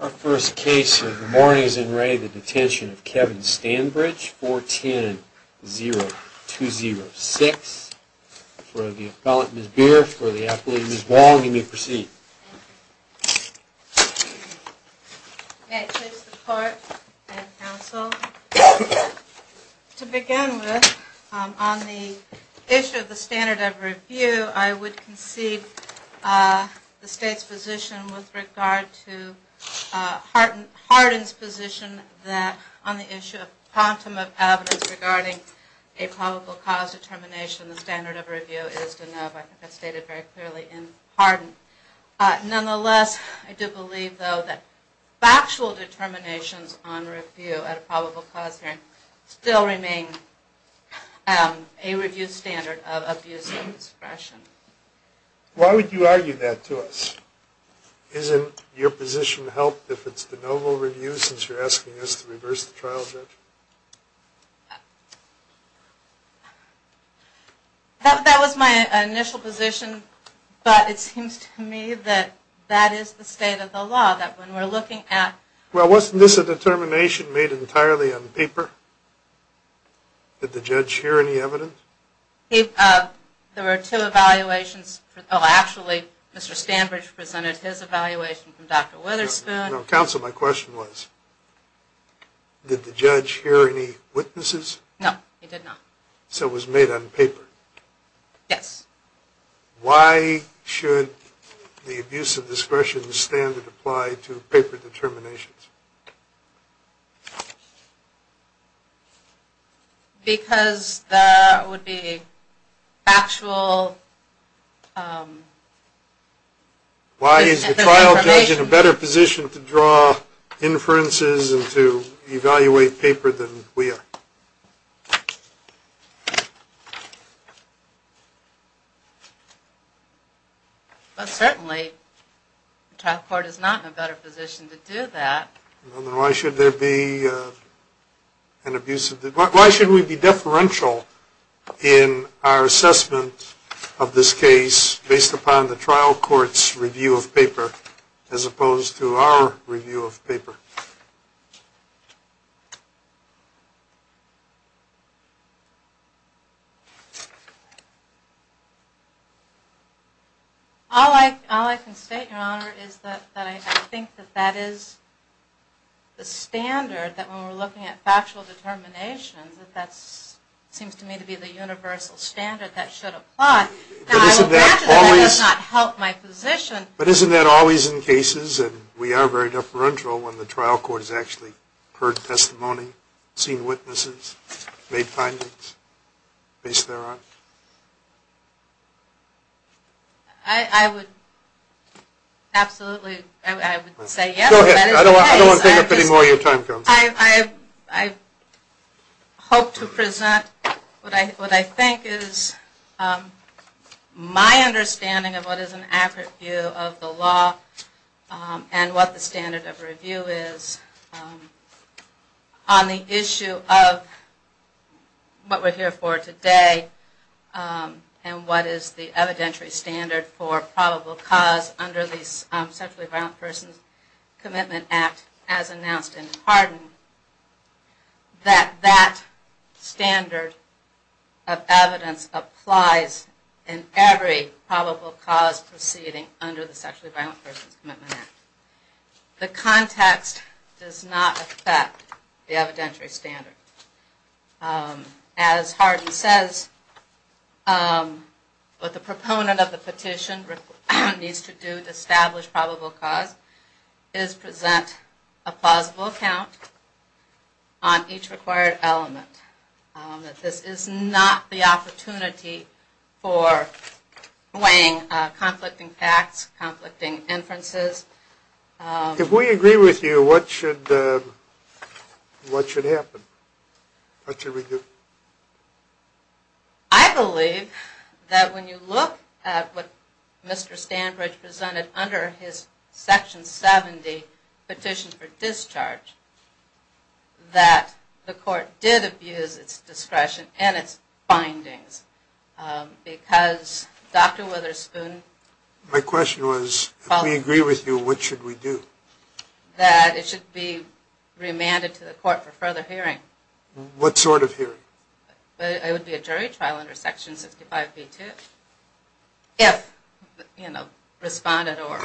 Our first case of the morning is in re the Detention of Kevin Stanbridge 410-0206 for the appellant Ms. Beer, for the appellant Ms. Wong. You may proceed. May it please the court and counsel. To begin with, on the issue of the standard of review, I would concede the state's position with regard to Hardin's position that on the issue of quantum of evidence regarding a probable cause determination, the standard of review is to no, I think that's stated very clearly in Hardin. Nonetheless, I do believe though that factual determinations on review at a probable cause hearing still remain a review standard of abuse of discretion. Why would you argue that to us? Isn't your position helped if it's de novo review since you're asking us to reverse the trial judgment? That was my initial position, but it seems to me that that is the state of the law, that when we're looking at... Well, wasn't this a determination made entirely on paper? Did the judge hear any evidence? There were two evaluations. Oh, actually, Mr. Stanbridge presented his evaluation from Dr. Witherspoon. Counsel, my question was, did the judge hear any witnesses? No, he did not. So it was made on paper? Yes. Why should the abuse of discretion standard apply to paper determinations? Because that would be factual... Why is the trial judge in a better position to draw inferences and to evaluate paper than we are? Well, certainly, the trial court is not in a better position to do that. Why should we be deferential in our assessment of this case based upon the trial court's review of paper as opposed to our review of paper? All I can state, Your Honor, is that I think that that is the standard, that when we're looking at factual determinations, that that seems to me to be the universal standard that should apply. But isn't that always in cases, and we are very deferential, when the trial court has actually heard testimony, seen witnesses, made findings based thereon? I would absolutely, I would say yes. Go ahead. I don't want to take up any more of your time, Counsel. I hope to present what I think is my understanding of what is an accurate view of the law and what the standard of review is on the issue of what we're here for today and what is the evidentiary standard for probable cause under the Sexually Violent Persons Commitment Act, as announced in Hardin, that that standard of evidence applies in every probable cause proceeding under the Sexually Violent Persons Commitment Act. The context does not affect the evidentiary standard. As Hardin says, what the proponent of the petition needs to do to establish probable cause is present a plausible account on each required element. This is not the opportunity for weighing conflicting facts, conflicting inferences. If we agree with you, what should happen? What should we do? I believe that when you look at what Mr. Standbridge presented under his Section 70 Petition for Discharge, that the court did abuse its discretion and its findings because Dr. Witherspoon My question was, if we agree with you, what should we do? That it should be remanded to the court for further hearing. What sort of hearing? It would be a jury trial under Section 65b-2, if, you know, responded or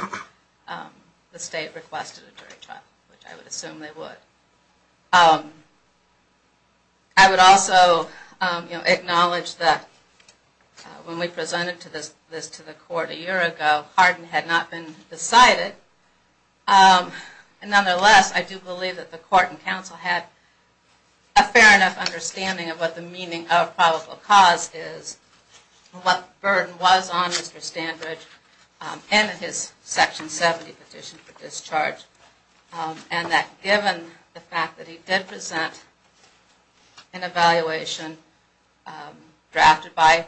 the state requested a jury trial, which I would assume they would. I would also acknowledge that when we presented this to the court a year ago, Hardin had not been decided. Nonetheless, I do believe that the court and counsel had a fair enough understanding of what the meaning of probable cause is, what the burden was on Mr. Standbridge and his Section 70 Petition for Discharge, and that given the fact that he did present an evaluation drafted by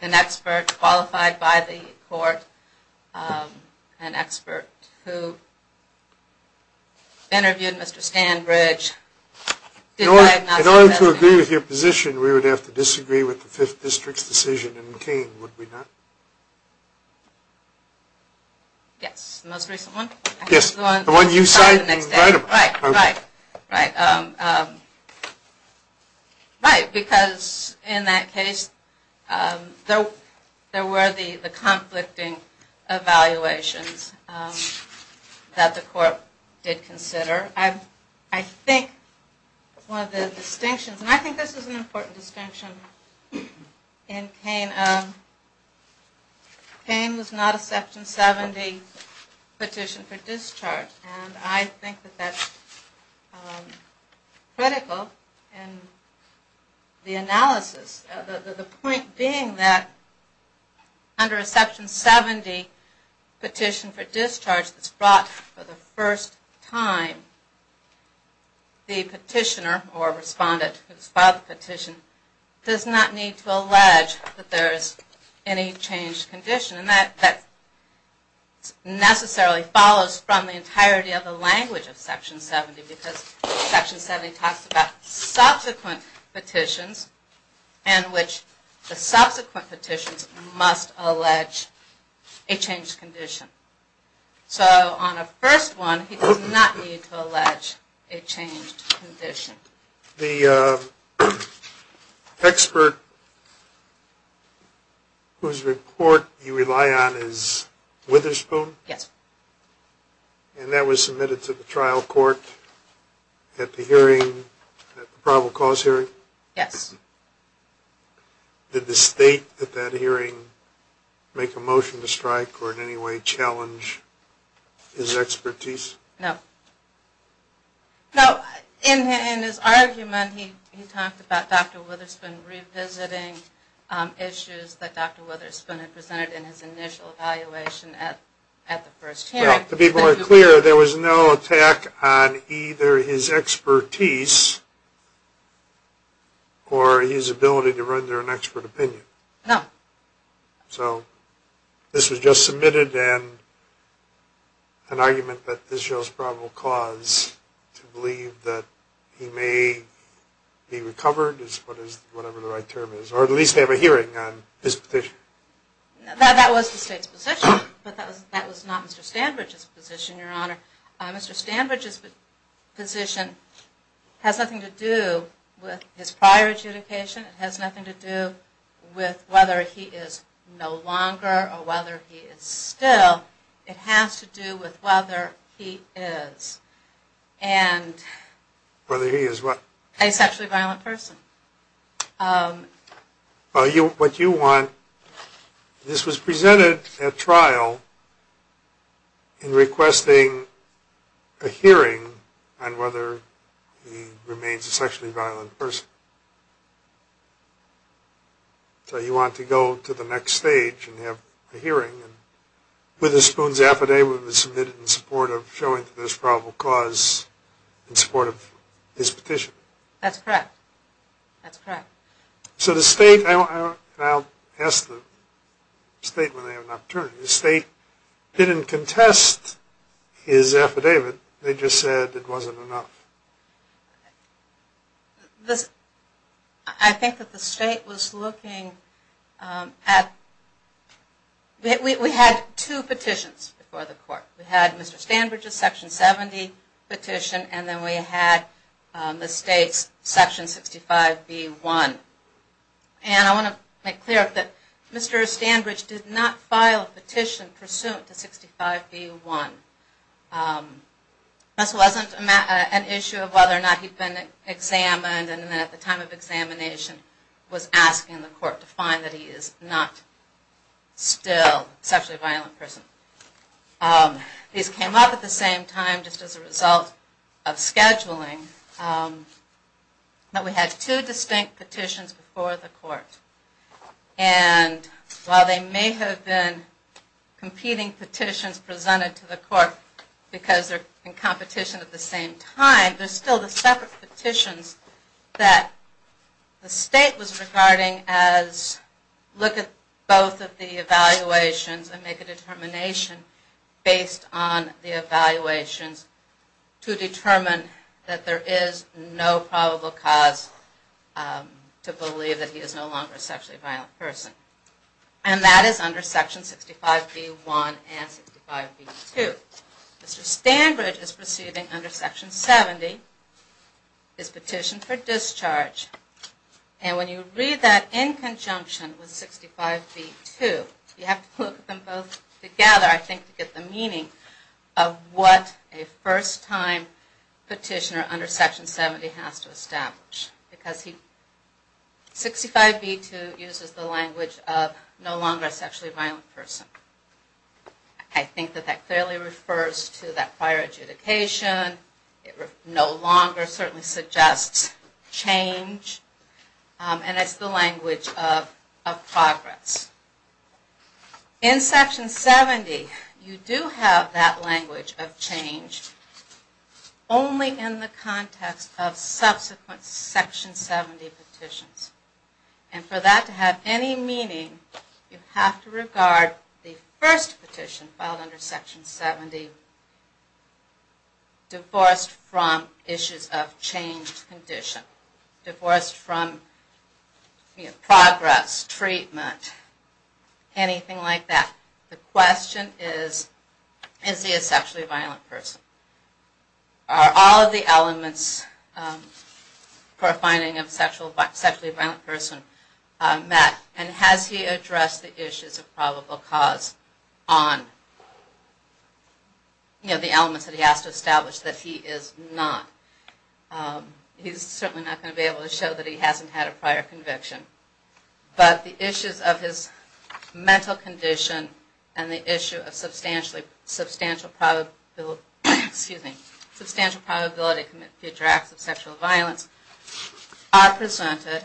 an expert, qualified by the court, an expert who interviewed Mr. Standbridge, did diagnose him as... In order to agree with your position, we would have to disagree with the 5th District's decision in King, would we not? Yes. The most recent one? Yes, the one you cited. Right, right, right. Right, because in that case, there were the conflicting evaluations that the court did consider. I think one of the distinctions, and I think this is an important distinction in King, King was not a Section 70 Petition for Discharge, and I think that that's critical in the analysis. The point being that under a Section 70 Petition for Discharge that's brought for the first time, the petitioner or respondent who has filed the petition does not need to allege that there is any changed condition, and that necessarily follows from the entirety of the language of Section 70, because Section 70 talks about subsequent petitions in which the subsequent petitions must allege a changed condition. So on a first one, he does not need to allege a changed condition. The expert whose report you rely on is Witherspoon? Yes. And that was submitted to the trial court at the hearing, at the probable cause hearing? Yes. Did the state at that hearing make a motion to strike or in any way challenge his expertise? No. No, in his argument he talked about Dr. Witherspoon revisiting issues that Dr. Witherspoon had presented in his initial evaluation at the first hearing. To be more clear, there was no attack on either his expertise or his ability to render an expert opinion? No. So this was just submitted and an argument that this shows probable cause to believe that he may be recovered, is whatever the right term is, or at least have a hearing on his petition. That was the state's position, but that was not Mr. Standbridge's position, Your Honor. Mr. Standbridge's position has nothing to do with his prior adjudication. It has nothing to do with whether he is no longer or whether he is still. It has to do with whether he is. Whether he is what? A sexually violent person. What you want, this was presented at trial in requesting a hearing on whether he remains a sexually violent person. So you want to go to the next stage and have a hearing. Witherspoon's affidavit was submitted in support of showing this probable cause in support of his petition. That's correct. So the state, and I'll ask the state when they have an opportunity, the state didn't contest his affidavit. They just said it wasn't enough. I think that the state was looking at, we had two petitions before the court. We had Mr. Standbridge's section 70 petition and then we had the state's section 65B1. And I want to make clear that Mr. Standbridge did not file a petition pursuant to 65B1. This wasn't an issue of whether or not he'd been examined and then at the time of examination was asked in the court to find that he is not still a sexually violent person. These came up at the same time just as a result of scheduling. But we had two distinct petitions before the court. And while they may have been competing petitions presented to the court because they're in competition at the same time, there's still the separate petitions that the state was regarding as look at both of the evaluations and make a determination based on the evaluations to determine that there is no probable cause to believe that he is no longer a sexually violent person. And that is under section 65B1 and 65B2. Mr. Standbridge is proceeding under section 70, his petition for discharge. And when you read that in conjunction with 65B2, you have to look at them both together I think to get the meaning of what a first time petitioner under section 70 has to establish. Because 65B2 uses the language of no longer a sexually violent person. I think that that clearly refers to that prior adjudication. No longer certainly suggests change. And it's the language of progress. In section 70, you do have that language of change only in the context of subsequent section 70 petitions. And for that to have any meaning, you have to regard the first petition filed under section 70 divorced from issues of changed condition. Divorced from progress, treatment, anything like that. The question is, is he a sexually violent person? Are all of the elements for a finding of a sexually violent person met? And has he addressed the issues of probable cause on the elements that he has to establish that he is not? He's certainly not going to be able to show that he hasn't had a prior conviction. But the issues of his mental condition and the issue of substantial probability to commit future acts of sexual violence are presented.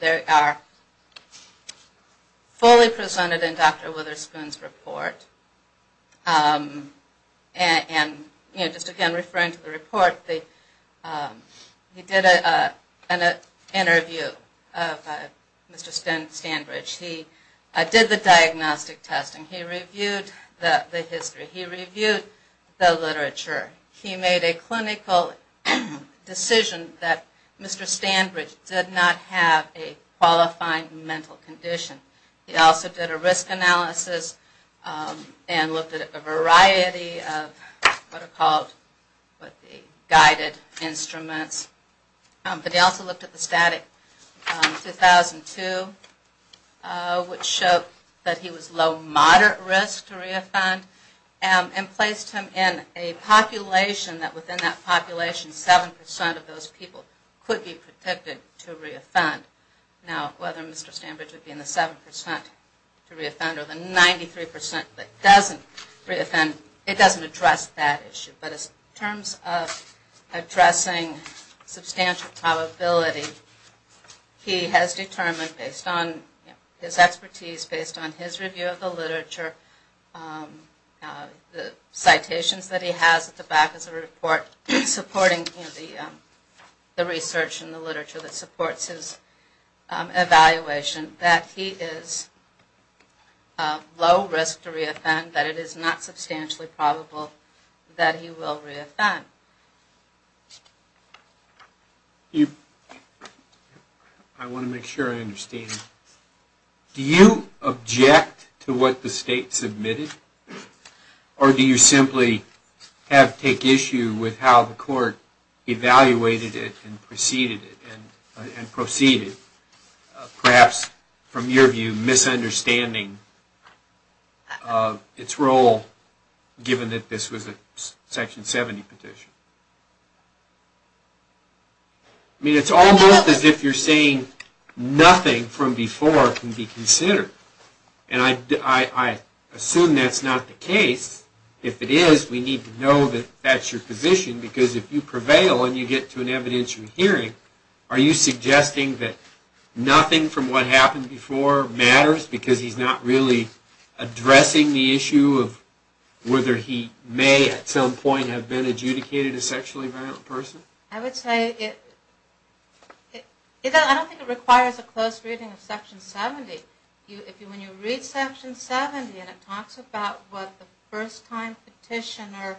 They are fully presented in Dr. Witherspoon's report. And just again referring to the report, he did an interview of Mr. Stanbridge. He did the diagnostic testing. He reviewed the history. He reviewed the literature. He made a clinical decision that Mr. Stanbridge did not have a qualifying mental condition. He also did a risk analysis and looked at a variety of what are called guided instruments. But he also looked at the static 2002, which showed that he was low moderate risk to re-offend. And placed him in a population that within that population, 7% of those people could be predicted to re-offend. Now, whether Mr. Stanbridge would be in the 7% to re-offend or the 93% that doesn't re-offend, it doesn't address that issue. But in terms of addressing substantial probability, he has determined based on his expertise, based on his review of the literature, the citations that he has at the back of the report supporting the research and the literature that supports his evaluation, that he is low risk to re-offend, that it is not substantially probable that he will re-offend. I want to make sure I understand. Do you object to what the state submitted? Or do you simply take issue with how the court evaluated it and proceeded, perhaps from your view, misunderstanding its role given that this was a Section 70 petition? I mean, it's almost as if you're saying nothing from before can be considered. And I assume that's not the case. If it is, we need to know that that's your position, because if you prevail and you get to an evidentiary hearing, are you suggesting that nothing from what happened before matters because he's not really addressing the issue of whether he may at some point have been adjudicated a sexually violent person? I would say it, I don't think it requires a close reading of Section 70. When you read Section 70 and it talks about what the first time petitioner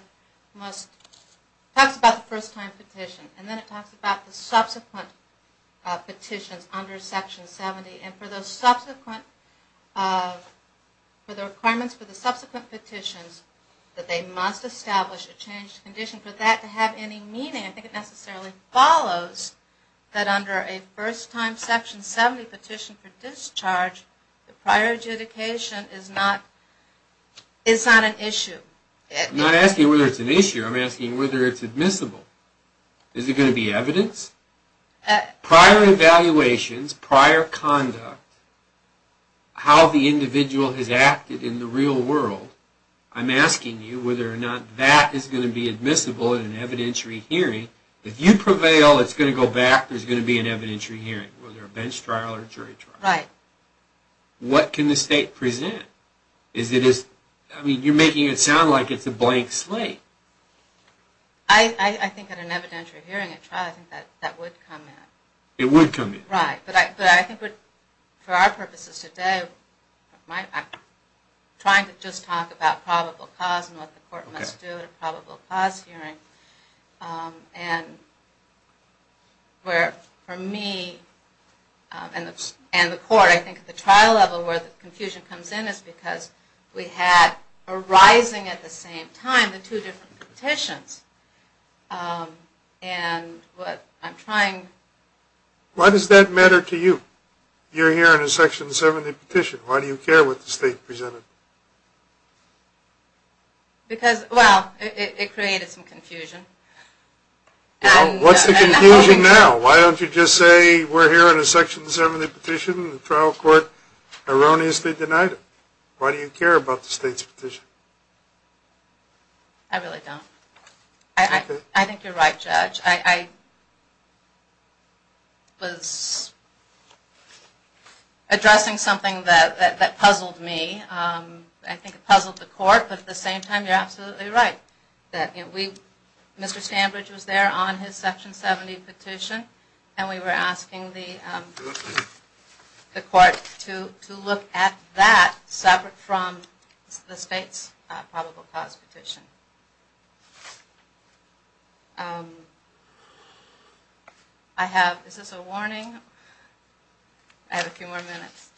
must, it talks about the first time petition, and then it talks about the subsequent petitions under Section 70, and for the subsequent, for the requirements for the subsequent petitions, that they must establish a changed condition for that to have any meaning. I think it necessarily follows that under a first time Section 70 petition for discharge, the prior adjudication is not an issue. I'm not asking whether it's an issue, I'm asking whether it's admissible. Is it going to be evidence? Prior evaluations, prior conduct, how the individual has acted in the real world, I'm asking you whether or not that is going to be admissible in an evidentiary hearing. If you prevail, it's going to go back, there's going to be an evidentiary hearing, whether a bench trial or jury trial. What can the state present? You're making it sound like it's a blank slate. I think at an evidentiary hearing, a trial, that would come in. For our purposes today, I'm trying to just talk about probable cause and what the court must do at a probable cause hearing. For me and the court, I think at the trial level where the confusion comes in is because we had arising at the same time the two different petitions. Why does that matter to you? You're hearing a Section 70 petition, why do you care what the state presented? Well, it created some confusion. What's the confusion now? Why don't you just say we're hearing a Section 70 petition and the trial court erroneously denied it? Why do you care about the state's petition? I really don't. I think you're right, Judge. I was addressing something that puzzled me. I think it puzzled the court, but at the same time, you're absolutely right. Mr. Stambridge was there on his Section 70 petition and we were asking the court to look at that separate from the state's probable cause petition. Is this a warning? I have a few more minutes.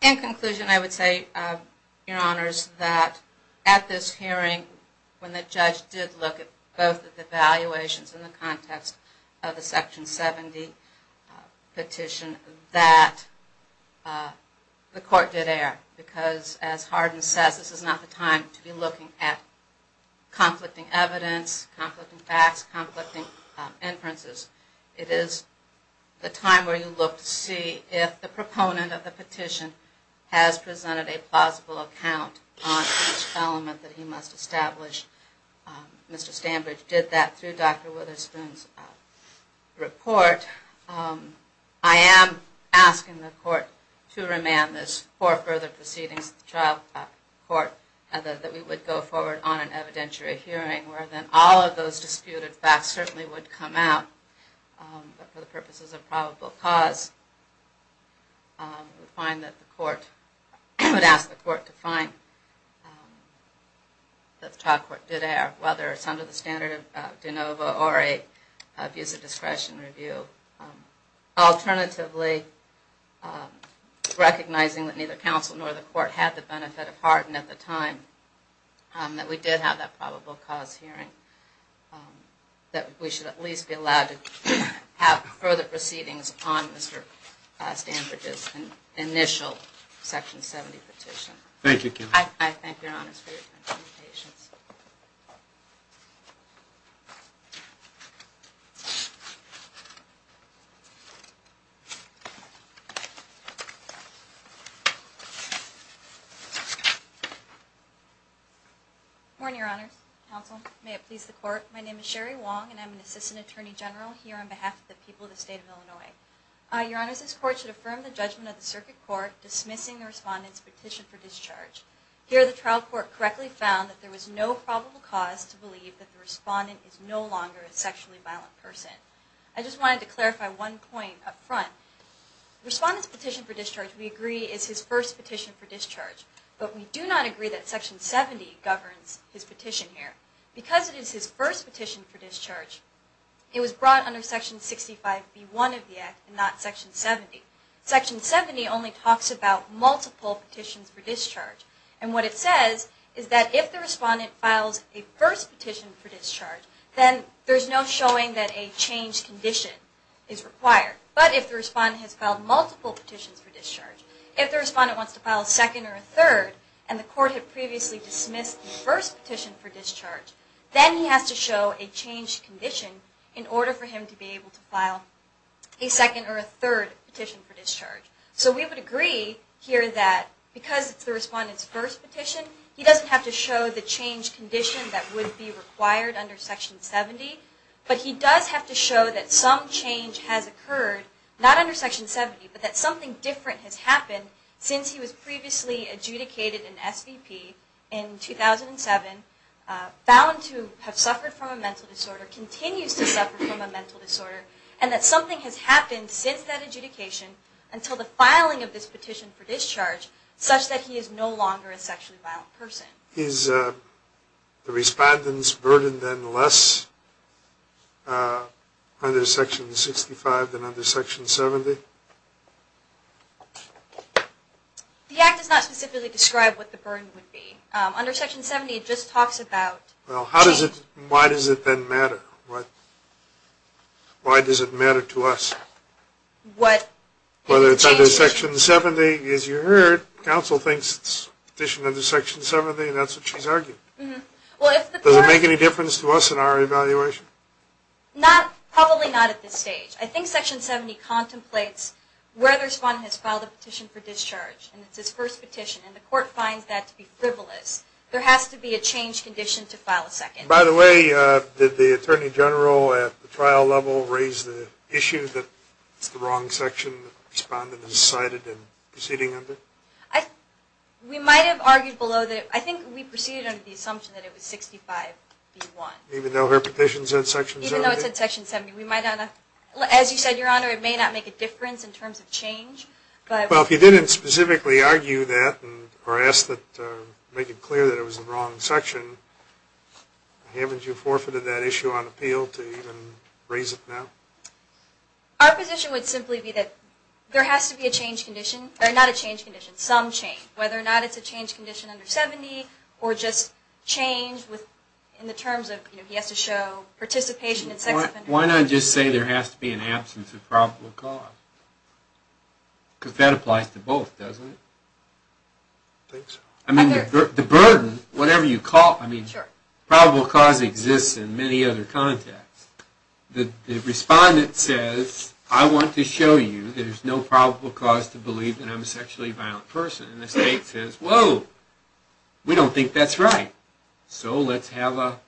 In conclusion, I would say, Your Honors, that at this hearing, when the judge did look at both of the evaluations in the context of the Section 70 petition, that the court did err. Because as Hardin says, this is not the time to be looking at conflicting evidence, conflicting facts, conflicting inferences. It is the time where you look to see if the proponent of the petition has presented a plausible account on each element that he must establish. Mr. Stambridge did that through Dr. Witherspoon's report. I am asking the court to remand this for further proceedings at the child court, that we would go forward on an evidentiary hearing, where then all of those disputed facts certainly would come out. But for the purposes of probable cause, I would ask the court to find that the child court did err, whether it's under the standard of de novo or a visa discretion review. Alternatively, recognizing that neither counsel nor the court had the benefit of Hardin at the time, that we did have that probable cause hearing. That we should at least be allowed to have further proceedings on Mr. Stambridge's initial Section 70 petition. Thank you. Morning, Your Honors. Counsel, may it please the court. My name is Sherry Wong, and I'm an Assistant Attorney General here on behalf of the people of the state of Illinois. Your Honors, this court should affirm the judgment of the circuit court dismissing the respondent's petition for discharge. Here, the child court correctly found that there was no probable cause to believe that the respondent is no longer a sexually violent person. I just wanted to clarify one point up front. Respondent's petition for discharge, we agree, is his first petition for discharge. But we do not agree that Section 70 governs his petition here. Because it is his first petition for discharge, it was brought under Section 65B1 of the Act and not Section 70. Section 70 only talks about multiple petitions for discharge. And what it says is that if the respondent files a first petition for discharge, then there's no showing that a changed condition is required. But if the respondent has filed multiple petitions for discharge, if the respondent wants to file a second or a third, and the court had previously dismissed the first petition for discharge, then he has to show a changed condition in order for him to be able to file a second or a third petition for discharge. So we would agree here that because it's the respondent's first petition, he doesn't have to show the changed condition that would be required under Section 70. But he does have to show that some change has occurred, not under Section 70, but that something different has happened since he was previously adjudicated an SVP in 2007, bound to have suffered from a mental disorder, continues to suffer from a mental disorder, and that something has happened since that adjudication, until the filing of this petition for discharge, such that he is no longer a sexually violent person. Is the respondent's burden then less under Section 65 than under Section 70? The Act does not specifically describe what the burden would be. Under Section 70, it just talks about change. Why does it then matter? Why does it matter to us? Whether it's under Section 70, as you heard, counsel thinks it's a petition under Section 70, and that's what she's arguing. Does it make any difference to us in our evaluation? Probably not at this stage. I think Section 70 contemplates where the respondent has filed a petition for discharge, and it's his first petition, and the court finds that to be frivolous. There has to be a change condition to file a second. By the way, did the Attorney General at the trial level raise the issue that it's the wrong section the respondent decided in proceeding under? We might have argued below that. I think we proceeded under the assumption that it was 65 v. 1. Even though her petition said Section 70? Even though it said Section 70. As you said, Your Honor, it may not make a difference in terms of change. Well, if you didn't specifically argue that, or make it clear that it was the wrong section, haven't you forfeited that issue on appeal to even raise it now? Our position would simply be that there has to be a change condition, or not a change condition, some change. Whether or not it's a change condition under 70, or just change in the terms of he has to show participation in sex offenders. Why not just say there has to be an absence of probable cause? Because that applies to both, doesn't it? I think so. I mean, the burden, whatever you call it, probable cause exists in many other contexts. The respondent says, I want to show you there's no probable cause to believe that I'm a sexually violent person. And the state says, whoa, we don't think that's right. So let's have a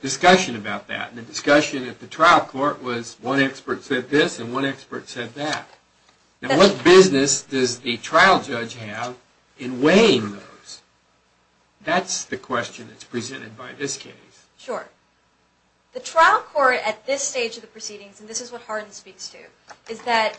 discussion about that. And the discussion at the trial court was one expert said this, and one expert said that. Now what business does the trial judge have in weighing those? That's the question that's presented by this case. Sure. The trial court at this stage of the proceedings, and this is what Harden speaks to, is that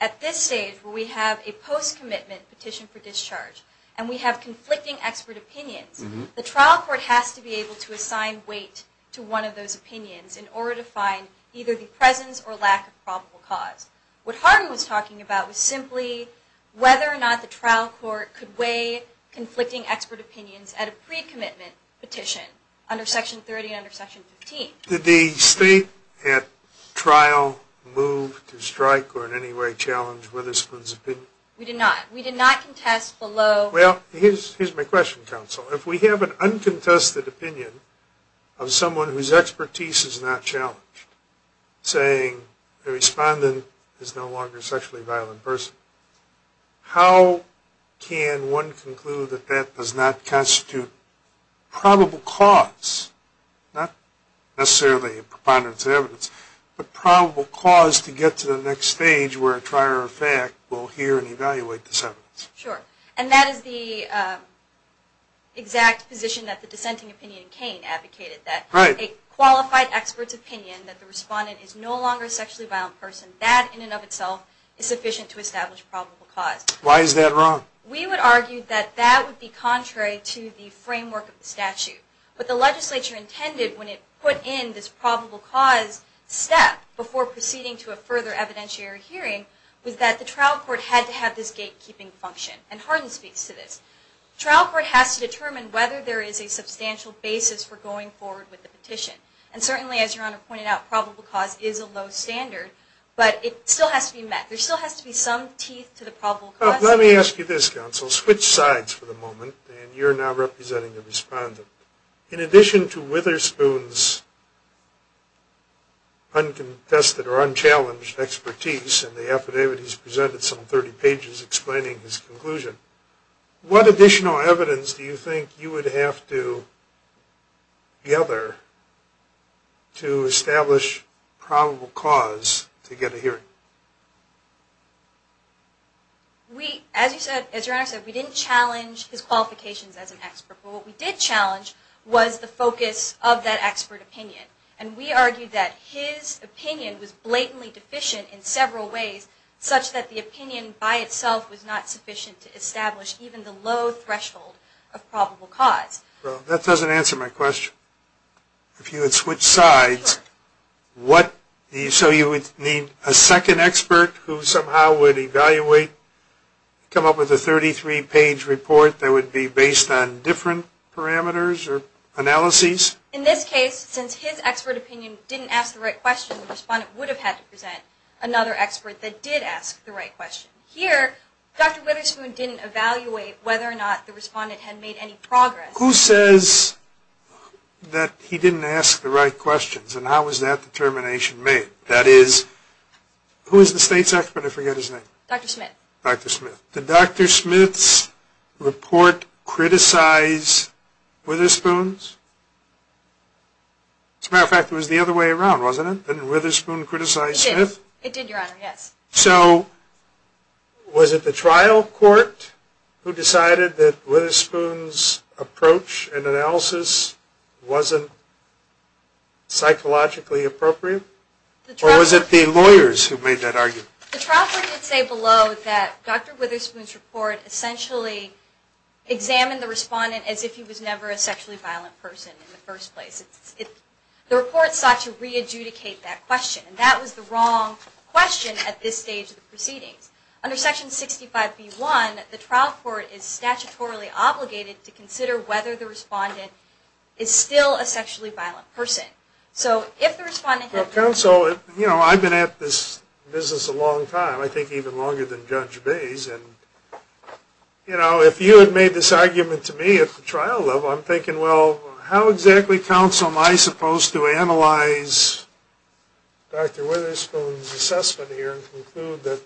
at this stage where we have a post-commitment petition for discharge, and we have conflicting expert opinions, the trial court has to be able to assign weight to one of those opinions in order to find either the presence or lack of probable cause. What Harden was talking about was simply whether or not the trial court could weigh conflicting expert opinions at a pre-commitment petition under Section 30 and under Section 15. Did the state at trial move to strike or in any way challenge Witherspoon's opinion? We did not. We did not contest below. Well, here's my question, counsel. If we have an uncontested opinion of someone whose expertise is not challenged, saying the respondent is no longer a sexually violent person, how can one conclude that that does not constitute probable cause, not necessarily a preponderance of evidence, but probable cause to get to the next stage where a trier of fact will hear and evaluate this evidence? Sure. And that is the exact position that the dissenting opinion in Kane advocated, that a qualified expert's opinion that the respondent is no longer a sexually violent person, that in and of itself is sufficient to establish probable cause. Why is that wrong? We would argue that that would be contrary to the framework of the statute. But the legislature intended, when it put in this probable cause step before proceeding to a further evidentiary hearing, was that the trial court had to have this gatekeeping function. And Hardin speaks to this. Trial court has to determine whether there is a substantial basis for going forward with the petition. And certainly, as Your Honor pointed out, probable cause is a low standard, but it still has to be met. There still has to be some teeth to the probable cause. Let me ask you this, counsel. Switch sides for the moment, and you're now representing the respondent. In addition to Witherspoon's uncontested or unchallenged expertise, and the affidavit he's presented, some 30 pages explaining his conclusion, what additional evidence do you think you would have to gather to establish probable cause to get a hearing? We, as Your Honor said, we didn't challenge his qualifications as an expert. But what we did challenge was the focus of that expert opinion. And we argued that his opinion was blatantly deficient in several ways, such that the opinion by itself was not sufficient to establish even the low threshold of probable cause. Well, that doesn't answer my question. If you had switched sides, so you would need a second opinion? A second expert who somehow would evaluate, come up with a 33-page report that would be based on different parameters or analyses? In this case, since his expert opinion didn't ask the right question, the respondent would have had to present another expert that did ask the right question. Here, Dr. Witherspoon didn't evaluate whether or not the respondent had made any progress. Who says that he didn't ask the right questions, and how was that determination made? That is, who is the state's expert? I forget his name. Dr. Smith. Dr. Smith. Did Dr. Smith's report criticize Witherspoon's? As a matter of fact, it was the other way around, wasn't it? Didn't Witherspoon criticize Smith? It did, Your Honor, yes. So, was it the trial court who decided that Witherspoon's approach and analysis wasn't psychologically appropriate? Or was it the lawyers who made that argument? The trial court did say below that Dr. Witherspoon's report essentially examined the respondent as if he was never a sexually violent person in the first place. The report sought to re-adjudicate that question, and that was the wrong question at this stage of the proceedings. Under Section 65b-1, the trial court is statutorily obligated to consider whether the respondent is still a sexually violent person. Well, counsel, I've been at this business a long time, I think even longer than Judge Bays, and if you had made this argument to me at the trial level, I'm thinking, well, how exactly, counsel, am I supposed to analyze Dr. Witherspoon's assessment here and conclude that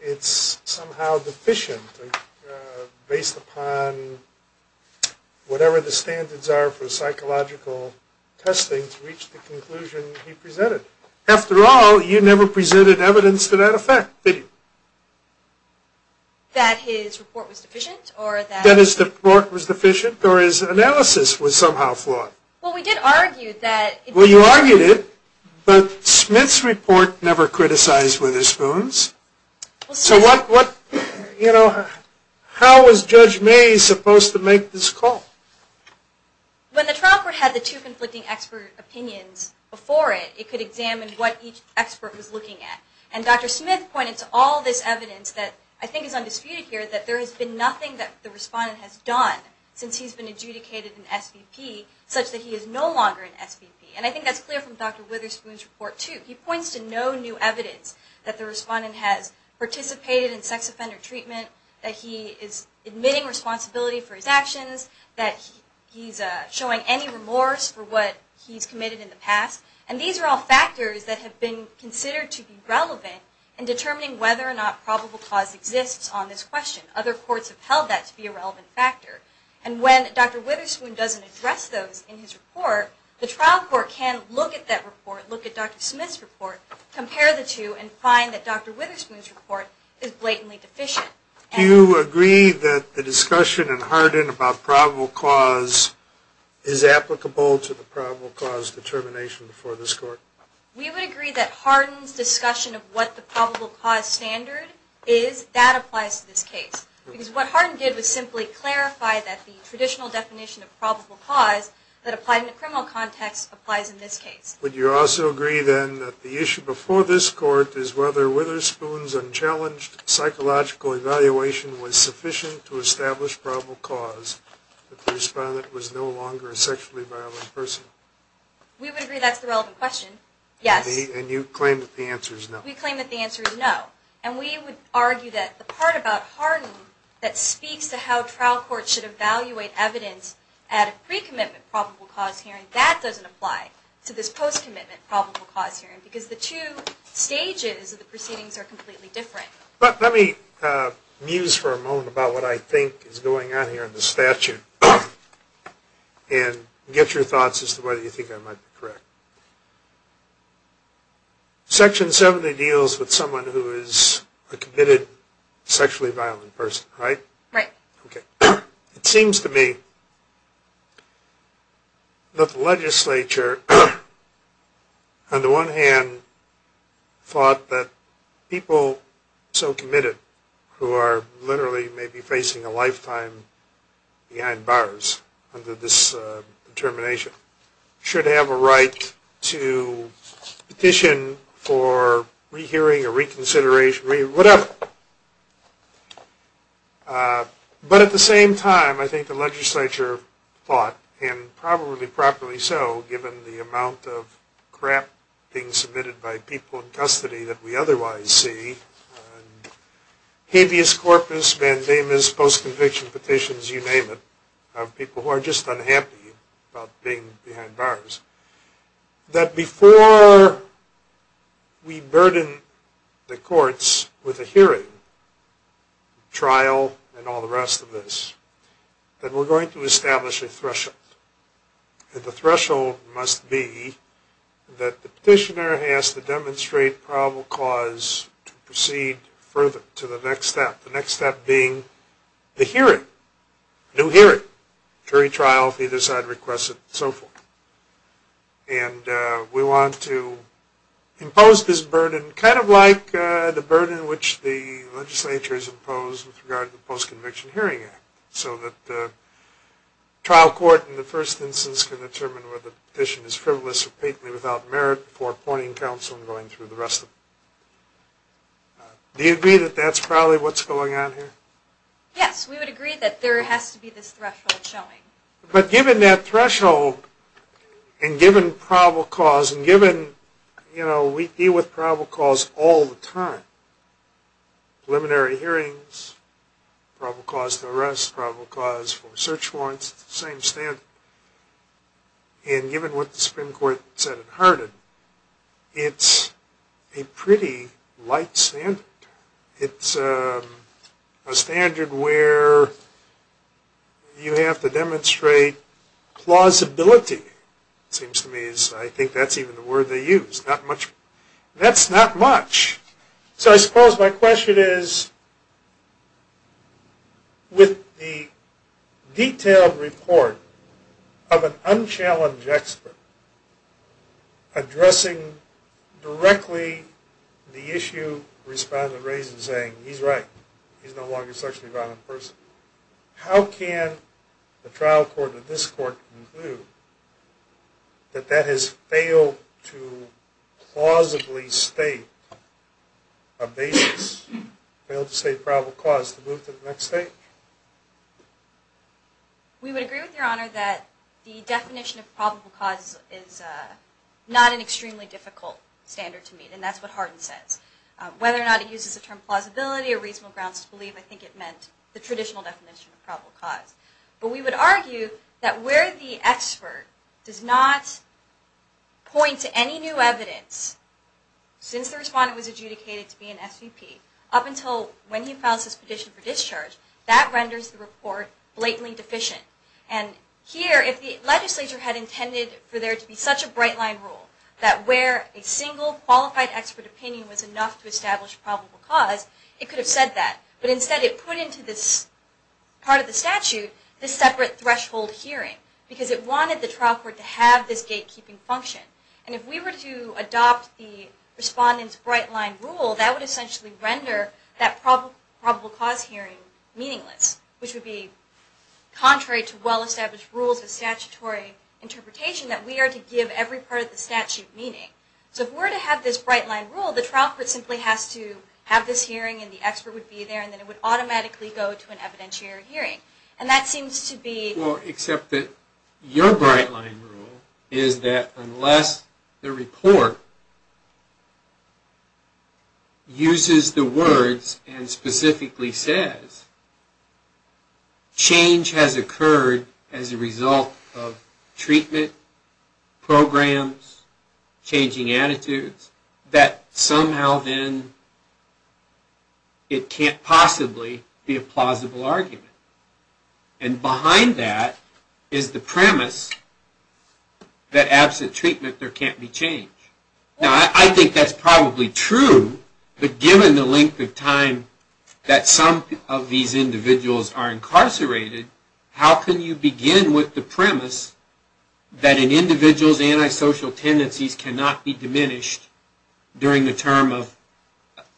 it's somehow deficient based upon whatever the standards are for psychological testing to reach the conclusion he presented? After all, you never presented evidence to that effect, did you? That his report was deficient or that... That his report was deficient or his analysis was somehow flawed? Well, we did argue that... Well, you argued it, but Smith's report never criticized Witherspoon's. So what, you know, how is Judge Bays supposed to make this call? When the trial court had the two conflicting expert opinions before it, it could examine what each expert was looking at. And Dr. Smith pointed to all this evidence that I think is undisputed here, that there has been nothing that the respondent has done since he's been adjudicated in SVP, such that he is no longer in SVP. And I think that's clear from Dr. Witherspoon's report too. He points to no new evidence that the respondent has participated in sex offender treatment, that he is admitting responsibility for his actions, that he's showing any remorse for what he's committed in the past. And these are all factors that have been considered to be relevant in determining whether or not probable cause exists on this question. Other courts have held that to be a relevant factor. And when Dr. Witherspoon doesn't address those in his report, the trial court can look at that report, look at Dr. Smith's report, compare the two, and find that Dr. Witherspoon's report is blatantly deficient. Do you agree that the discussion in Hardin about probable cause is applicable to the probable cause determination before this court? We would agree that Hardin's discussion of what the probable cause standard is, that applies to this case. Because what Hardin did was simply clarify that the traditional definition of probable cause that applied in a criminal context applies in this case. Would you also agree then that the issue before this court is whether Witherspoon's unchallenged psychological evaluation was sufficient to establish probable cause if the respondent was no longer a sexually violent person? We would agree that's the relevant question, yes. And you claim that the answer is no. We claim that the answer is no. And we would argue that the part about Hardin that speaks to how trial courts should evaluate evidence at a pre-commitment probable cause hearing, that doesn't apply to this post-commitment probable cause hearing. Because the two stages of the proceedings are completely different. Let me muse for a moment about what I think is going on here in the statute and get your thoughts as to whether you think I might be correct. Section 70 deals with someone who is a committed sexually violent person, right? Right. It seems to me that the legislature, on the one hand, thought that people so committed who are literally maybe facing a lifetime behind bars under this determination should have a right to petition for rehearing or reconsideration, agree, whatever. But at the same time, I think the legislature thought, and probably properly so given the amount of crap being submitted by people in custody that we otherwise see, habeas corpus, mandamus, post-conviction petitions, you name it, of people who are just unhappy about being behind bars, that before we burden the courts with a hearing, trial, and all the rest of this, that we're going to establish a threshold. And the threshold must be that the petitioner has to demonstrate probable cause to proceed further to the next step. The next step being the hearing. New hearing, jury trial, if either side requests it, so forth. And we want to impose this burden kind of like the burden which the legislature has imposed with regard to the Post-Conviction Hearing Act, so that the trial court in the first instance can determine whether the petition is frivolous or patently without merit before appointing counsel and going through the rest of it. Do you agree that that's probably what's going on here? Yes, we would agree that there has to be this threshold showing. But given that threshold, and given probable cause, and given we deal with probable cause all the time, preliminary hearings, probable cause to arrest, probable cause for search warrants, it's the same standard. And given what the Supreme Court said in Hardin, it's a pretty light standard. It's a standard where you have to demonstrate plausibility, it seems to me. I think that's even the word they use. That's not much. So I suppose my question is, with the detailed report of an unchallenged expert addressing directly the issue respondent raised in saying, he's right, he's no longer a sexually violent person, how can the trial court of this court conclude that that has failed to plausibly state a basis, failed to state probable cause to move to the next stage? We would agree with Your Honor that the definition of probable cause is not an extremely difficult standard to meet, and that's what Hardin says. Whether or not he uses the term plausibility or reasonable grounds to believe, I think it meant the traditional definition of probable cause. But we would argue that where the expert does not point to any new evidence, since the respondent was adjudicated to be an SVP, up until when he files his petition for discharge, that renders the report blatantly deficient. And here, if the legislature had intended for there to be such a bright line rule, that where a single qualified expert opinion was enough to establish probable cause, it could have said that. But instead it put into this part of the statute this separate threshold hearing, because it wanted the trial court to have this gatekeeping function. And if we were to adopt the respondent's bright line rule, that would essentially render that probable cause hearing meaningless, which would be contrary to well-established rules of statutory interpretation, that we are to give every part of the statute meaning. So if we were to have this bright line rule, the trial court simply has to have this hearing and the expert would be there, and then it would automatically go to an evidentiary hearing. And that seems to be... uses the words, and specifically says, change has occurred as a result of treatment, programs, changing attitudes, that somehow then it can't possibly be a plausible argument. And behind that is the premise that absent treatment there can't be change. Now I think that's probably true, but given the length of time that some of these individuals are incarcerated, how can you begin with the premise that an individual's antisocial tendencies cannot be diminished during the term of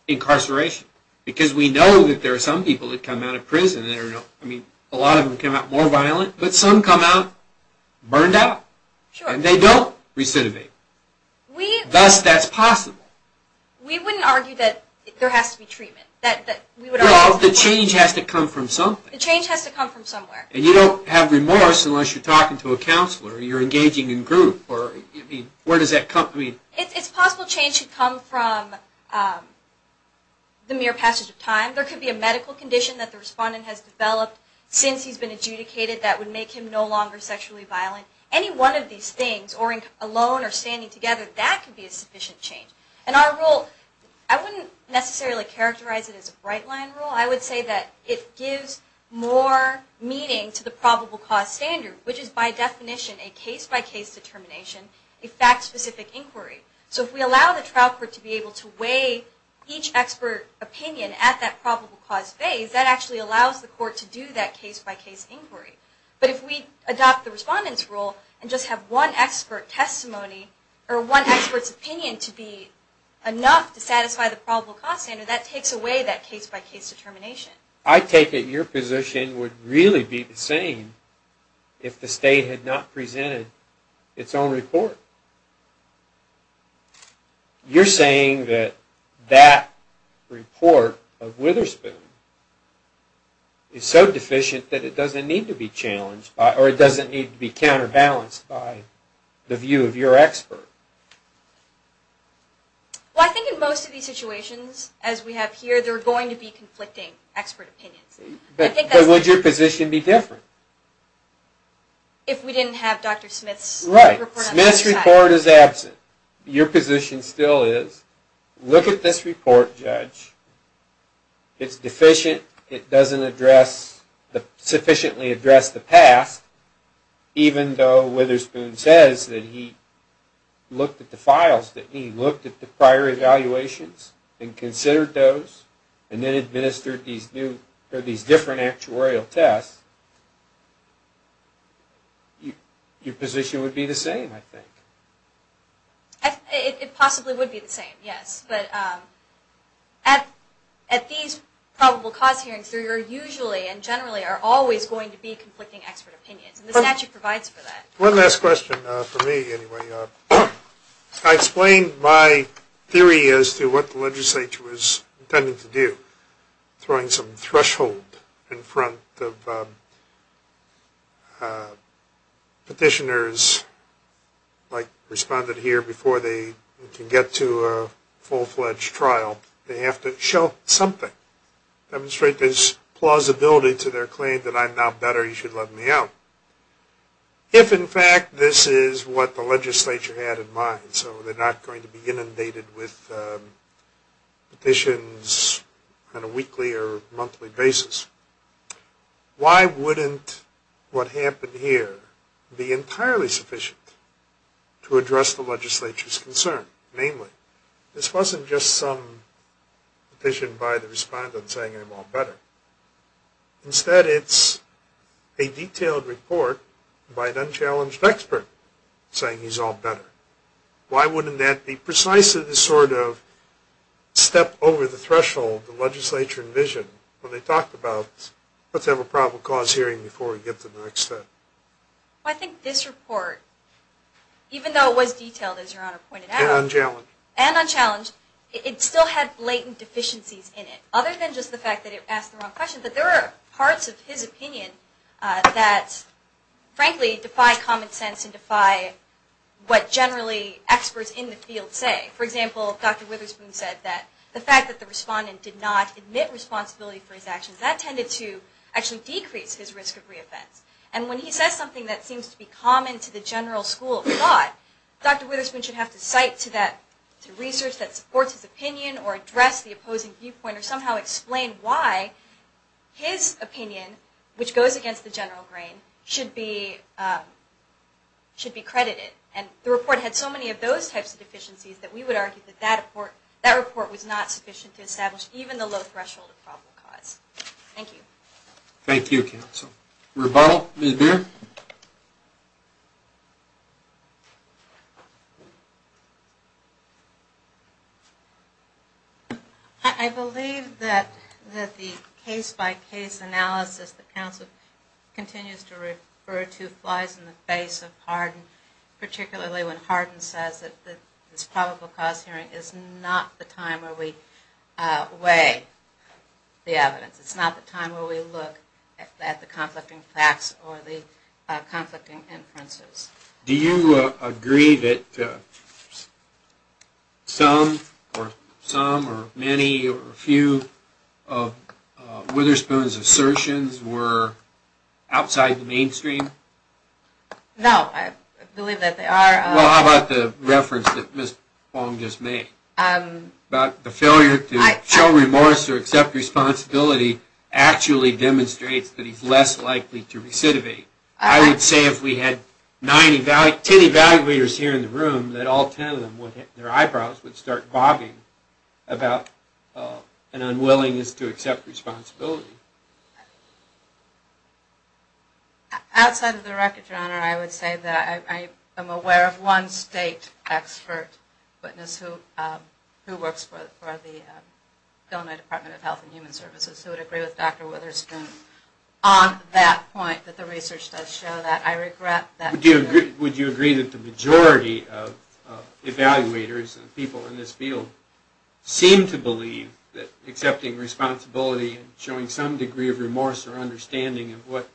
incarceration? Because we know that there are some people that come out of prison, I mean a lot of them come out more violent, but some come out burned out. And they don't recidivate. Thus that's possible. We wouldn't argue that there has to be treatment. No, the change has to come from something. The change has to come from somewhere. And you don't have remorse unless you're talking to a counselor, or you're engaging in group. Where does that come from? It's possible change should come from the mere passage of time. There could be a medical condition that the respondent has developed since he's been adjudicated that would make him no longer sexually violent. Any one of these things, or alone or standing together, that could be a sufficient change. And our rule, I wouldn't necessarily characterize it as a bright line rule. I would say that it gives more meaning to the probable cause standard, which is by definition a case-by-case determination, a fact-specific inquiry. So if we allow the trial court to be able to weigh each expert opinion at that probable cause phase, that actually allows the court to do that case-by-case inquiry. But if we adopt the respondent's rule and just have one expert testimony, or one expert's opinion to be enough to satisfy the probable cause standard, that takes away that case-by-case determination. I take it your position would really be the same if the state had not presented its own report. You're saying that that report of Witherspoon is so deficient that it doesn't need to be challenged, or it doesn't need to be counterbalanced by the view of your expert. Well, I think in most of these situations, as we have here, there are going to be conflicting expert opinions. But would your position be different? If we didn't have Dr. Smith's report on the other side. Right. Smith's report is absent. Your position still is, look at this report, judge. It's deficient, it doesn't sufficiently address the past, even though Witherspoon says that he looked at the files, that he looked at the prior evaluations and considered those, and then administered these different actuarial tests. Your position would be the same, I think. It possibly would be the same, yes. But at these probable cause hearings, there usually and generally are always going to be conflicting expert opinions, and the statute provides for that. One last question for me, anyway. I explained my theory as to what the legislature was intending to do, throwing some threshold in front of petitioners, like responded here before they can get to a full-fledged trial. They have to show something. Demonstrate there's plausibility to their claim that I'm now better, you should let me out. If, in fact, this is what the legislature had in mind, so they're not going to be inundated with petitions on a weekly or monthly basis, why wouldn't what happened here be entirely sufficient to address the legislature's concern? Namely, this wasn't just some petition by the respondent saying I'm all better. Instead, it's a detailed report by an unchallenged expert saying he's all better. Why wouldn't that be precisely the sort of step over the threshold the legislature envisioned when they talked about let's have a probable cause hearing before we get to the next step? I think this report, even though it was detailed, as Your Honor pointed out, and unchallenged, it still had blatant deficiencies in it, other than just the fact that it asked the wrong question. But there are parts of his opinion that frankly defy common sense and defy what generally experts in the field say. For example, Dr. Witherspoon said that the fact that the respondent did not admit responsibility for his actions, that tended to actually decrease his risk of reoffense. And when he says something that seems to be common to the general school of thought, Dr. Witherspoon should have to cite to research that supports his opinion or address the opposing viewpoint or somehow explain why his opinion, which goes against the general grain, should be credited. And the report had so many of those types of deficiencies that we would argue that that report was not sufficient to establish even the low threshold of probable cause. Thank you. Thank you, counsel. Rebuttal? Ms. Beer? I believe that the case-by-case analysis that counsel continues to refer to flies in the face of Hardin, particularly when Hardin says that this probable cause hearing is not the time where we weigh the evidence. It's not the time where we look at the conflicting facts or the conflicting inferences. Do you agree that some or many or a few of Witherspoon's assertions were outside the mainstream? No. I believe that they are. Well, how about the reference that Ms. Fong just made about the failure to show remorse or accept responsibility actually demonstrates that he's less likely to recidivate? I would say if we had ten evaluators here in the room that all ten of them, their eyebrows would start bobbing about an unwillingness to accept responsibility. Outside of the record, Your Honor, I would say that I am aware of one state expert witness who works for the Illinois Department of Health and Human Services who would agree with Dr. Witherspoon on that point, that the research does show that. I regret that. Would you agree that the majority of evaluators and people in this field seem to believe that accepting responsibility and showing some degree of remorse or understanding of what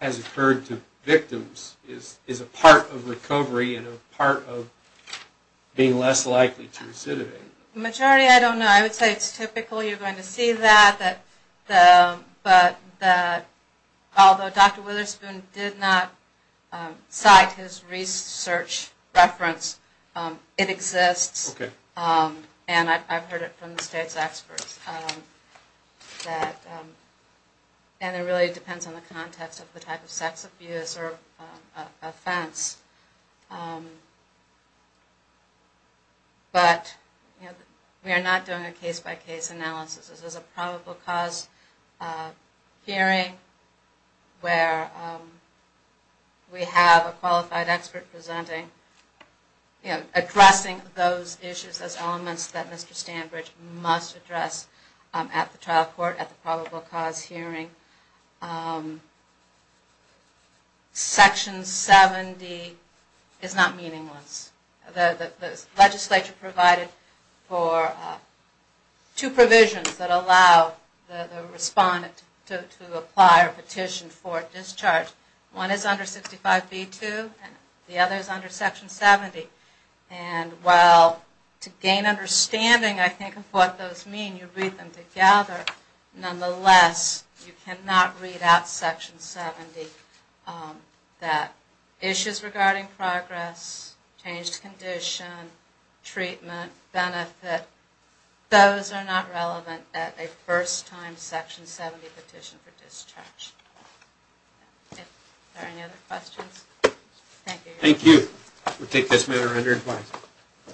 has occurred to victims is a part of recovery and a part of being less likely to recidivate? The majority, I don't know. I would say it's typical. You're going to see that. But although Dr. Witherspoon did not cite his research reference, it exists. Okay. And I've heard it from the state's experts. And it really depends on the context of the type of sex abuse or offense. But we are not doing a case-by-case analysis. This is a probable cause hearing where we have a qualified expert presenting, addressing those issues as elements that Mr. Standbridge must address at the trial court, at the probable cause hearing. Section 70 is not meaningless. The legislature provided for two provisions that allow the respondent to apply or petition for discharge. One is under 65B2 and the other is under Section 70. And while to gain understanding, I think, of what those mean, you read them together, nonetheless, you cannot read out Section 70 that issues regarding progress, changed condition, treatment, benefit, those are not relevant at a first-time Section 70 petition for discharge. Are there any other questions? Thank you. Thank you. We'll take this matter under advice.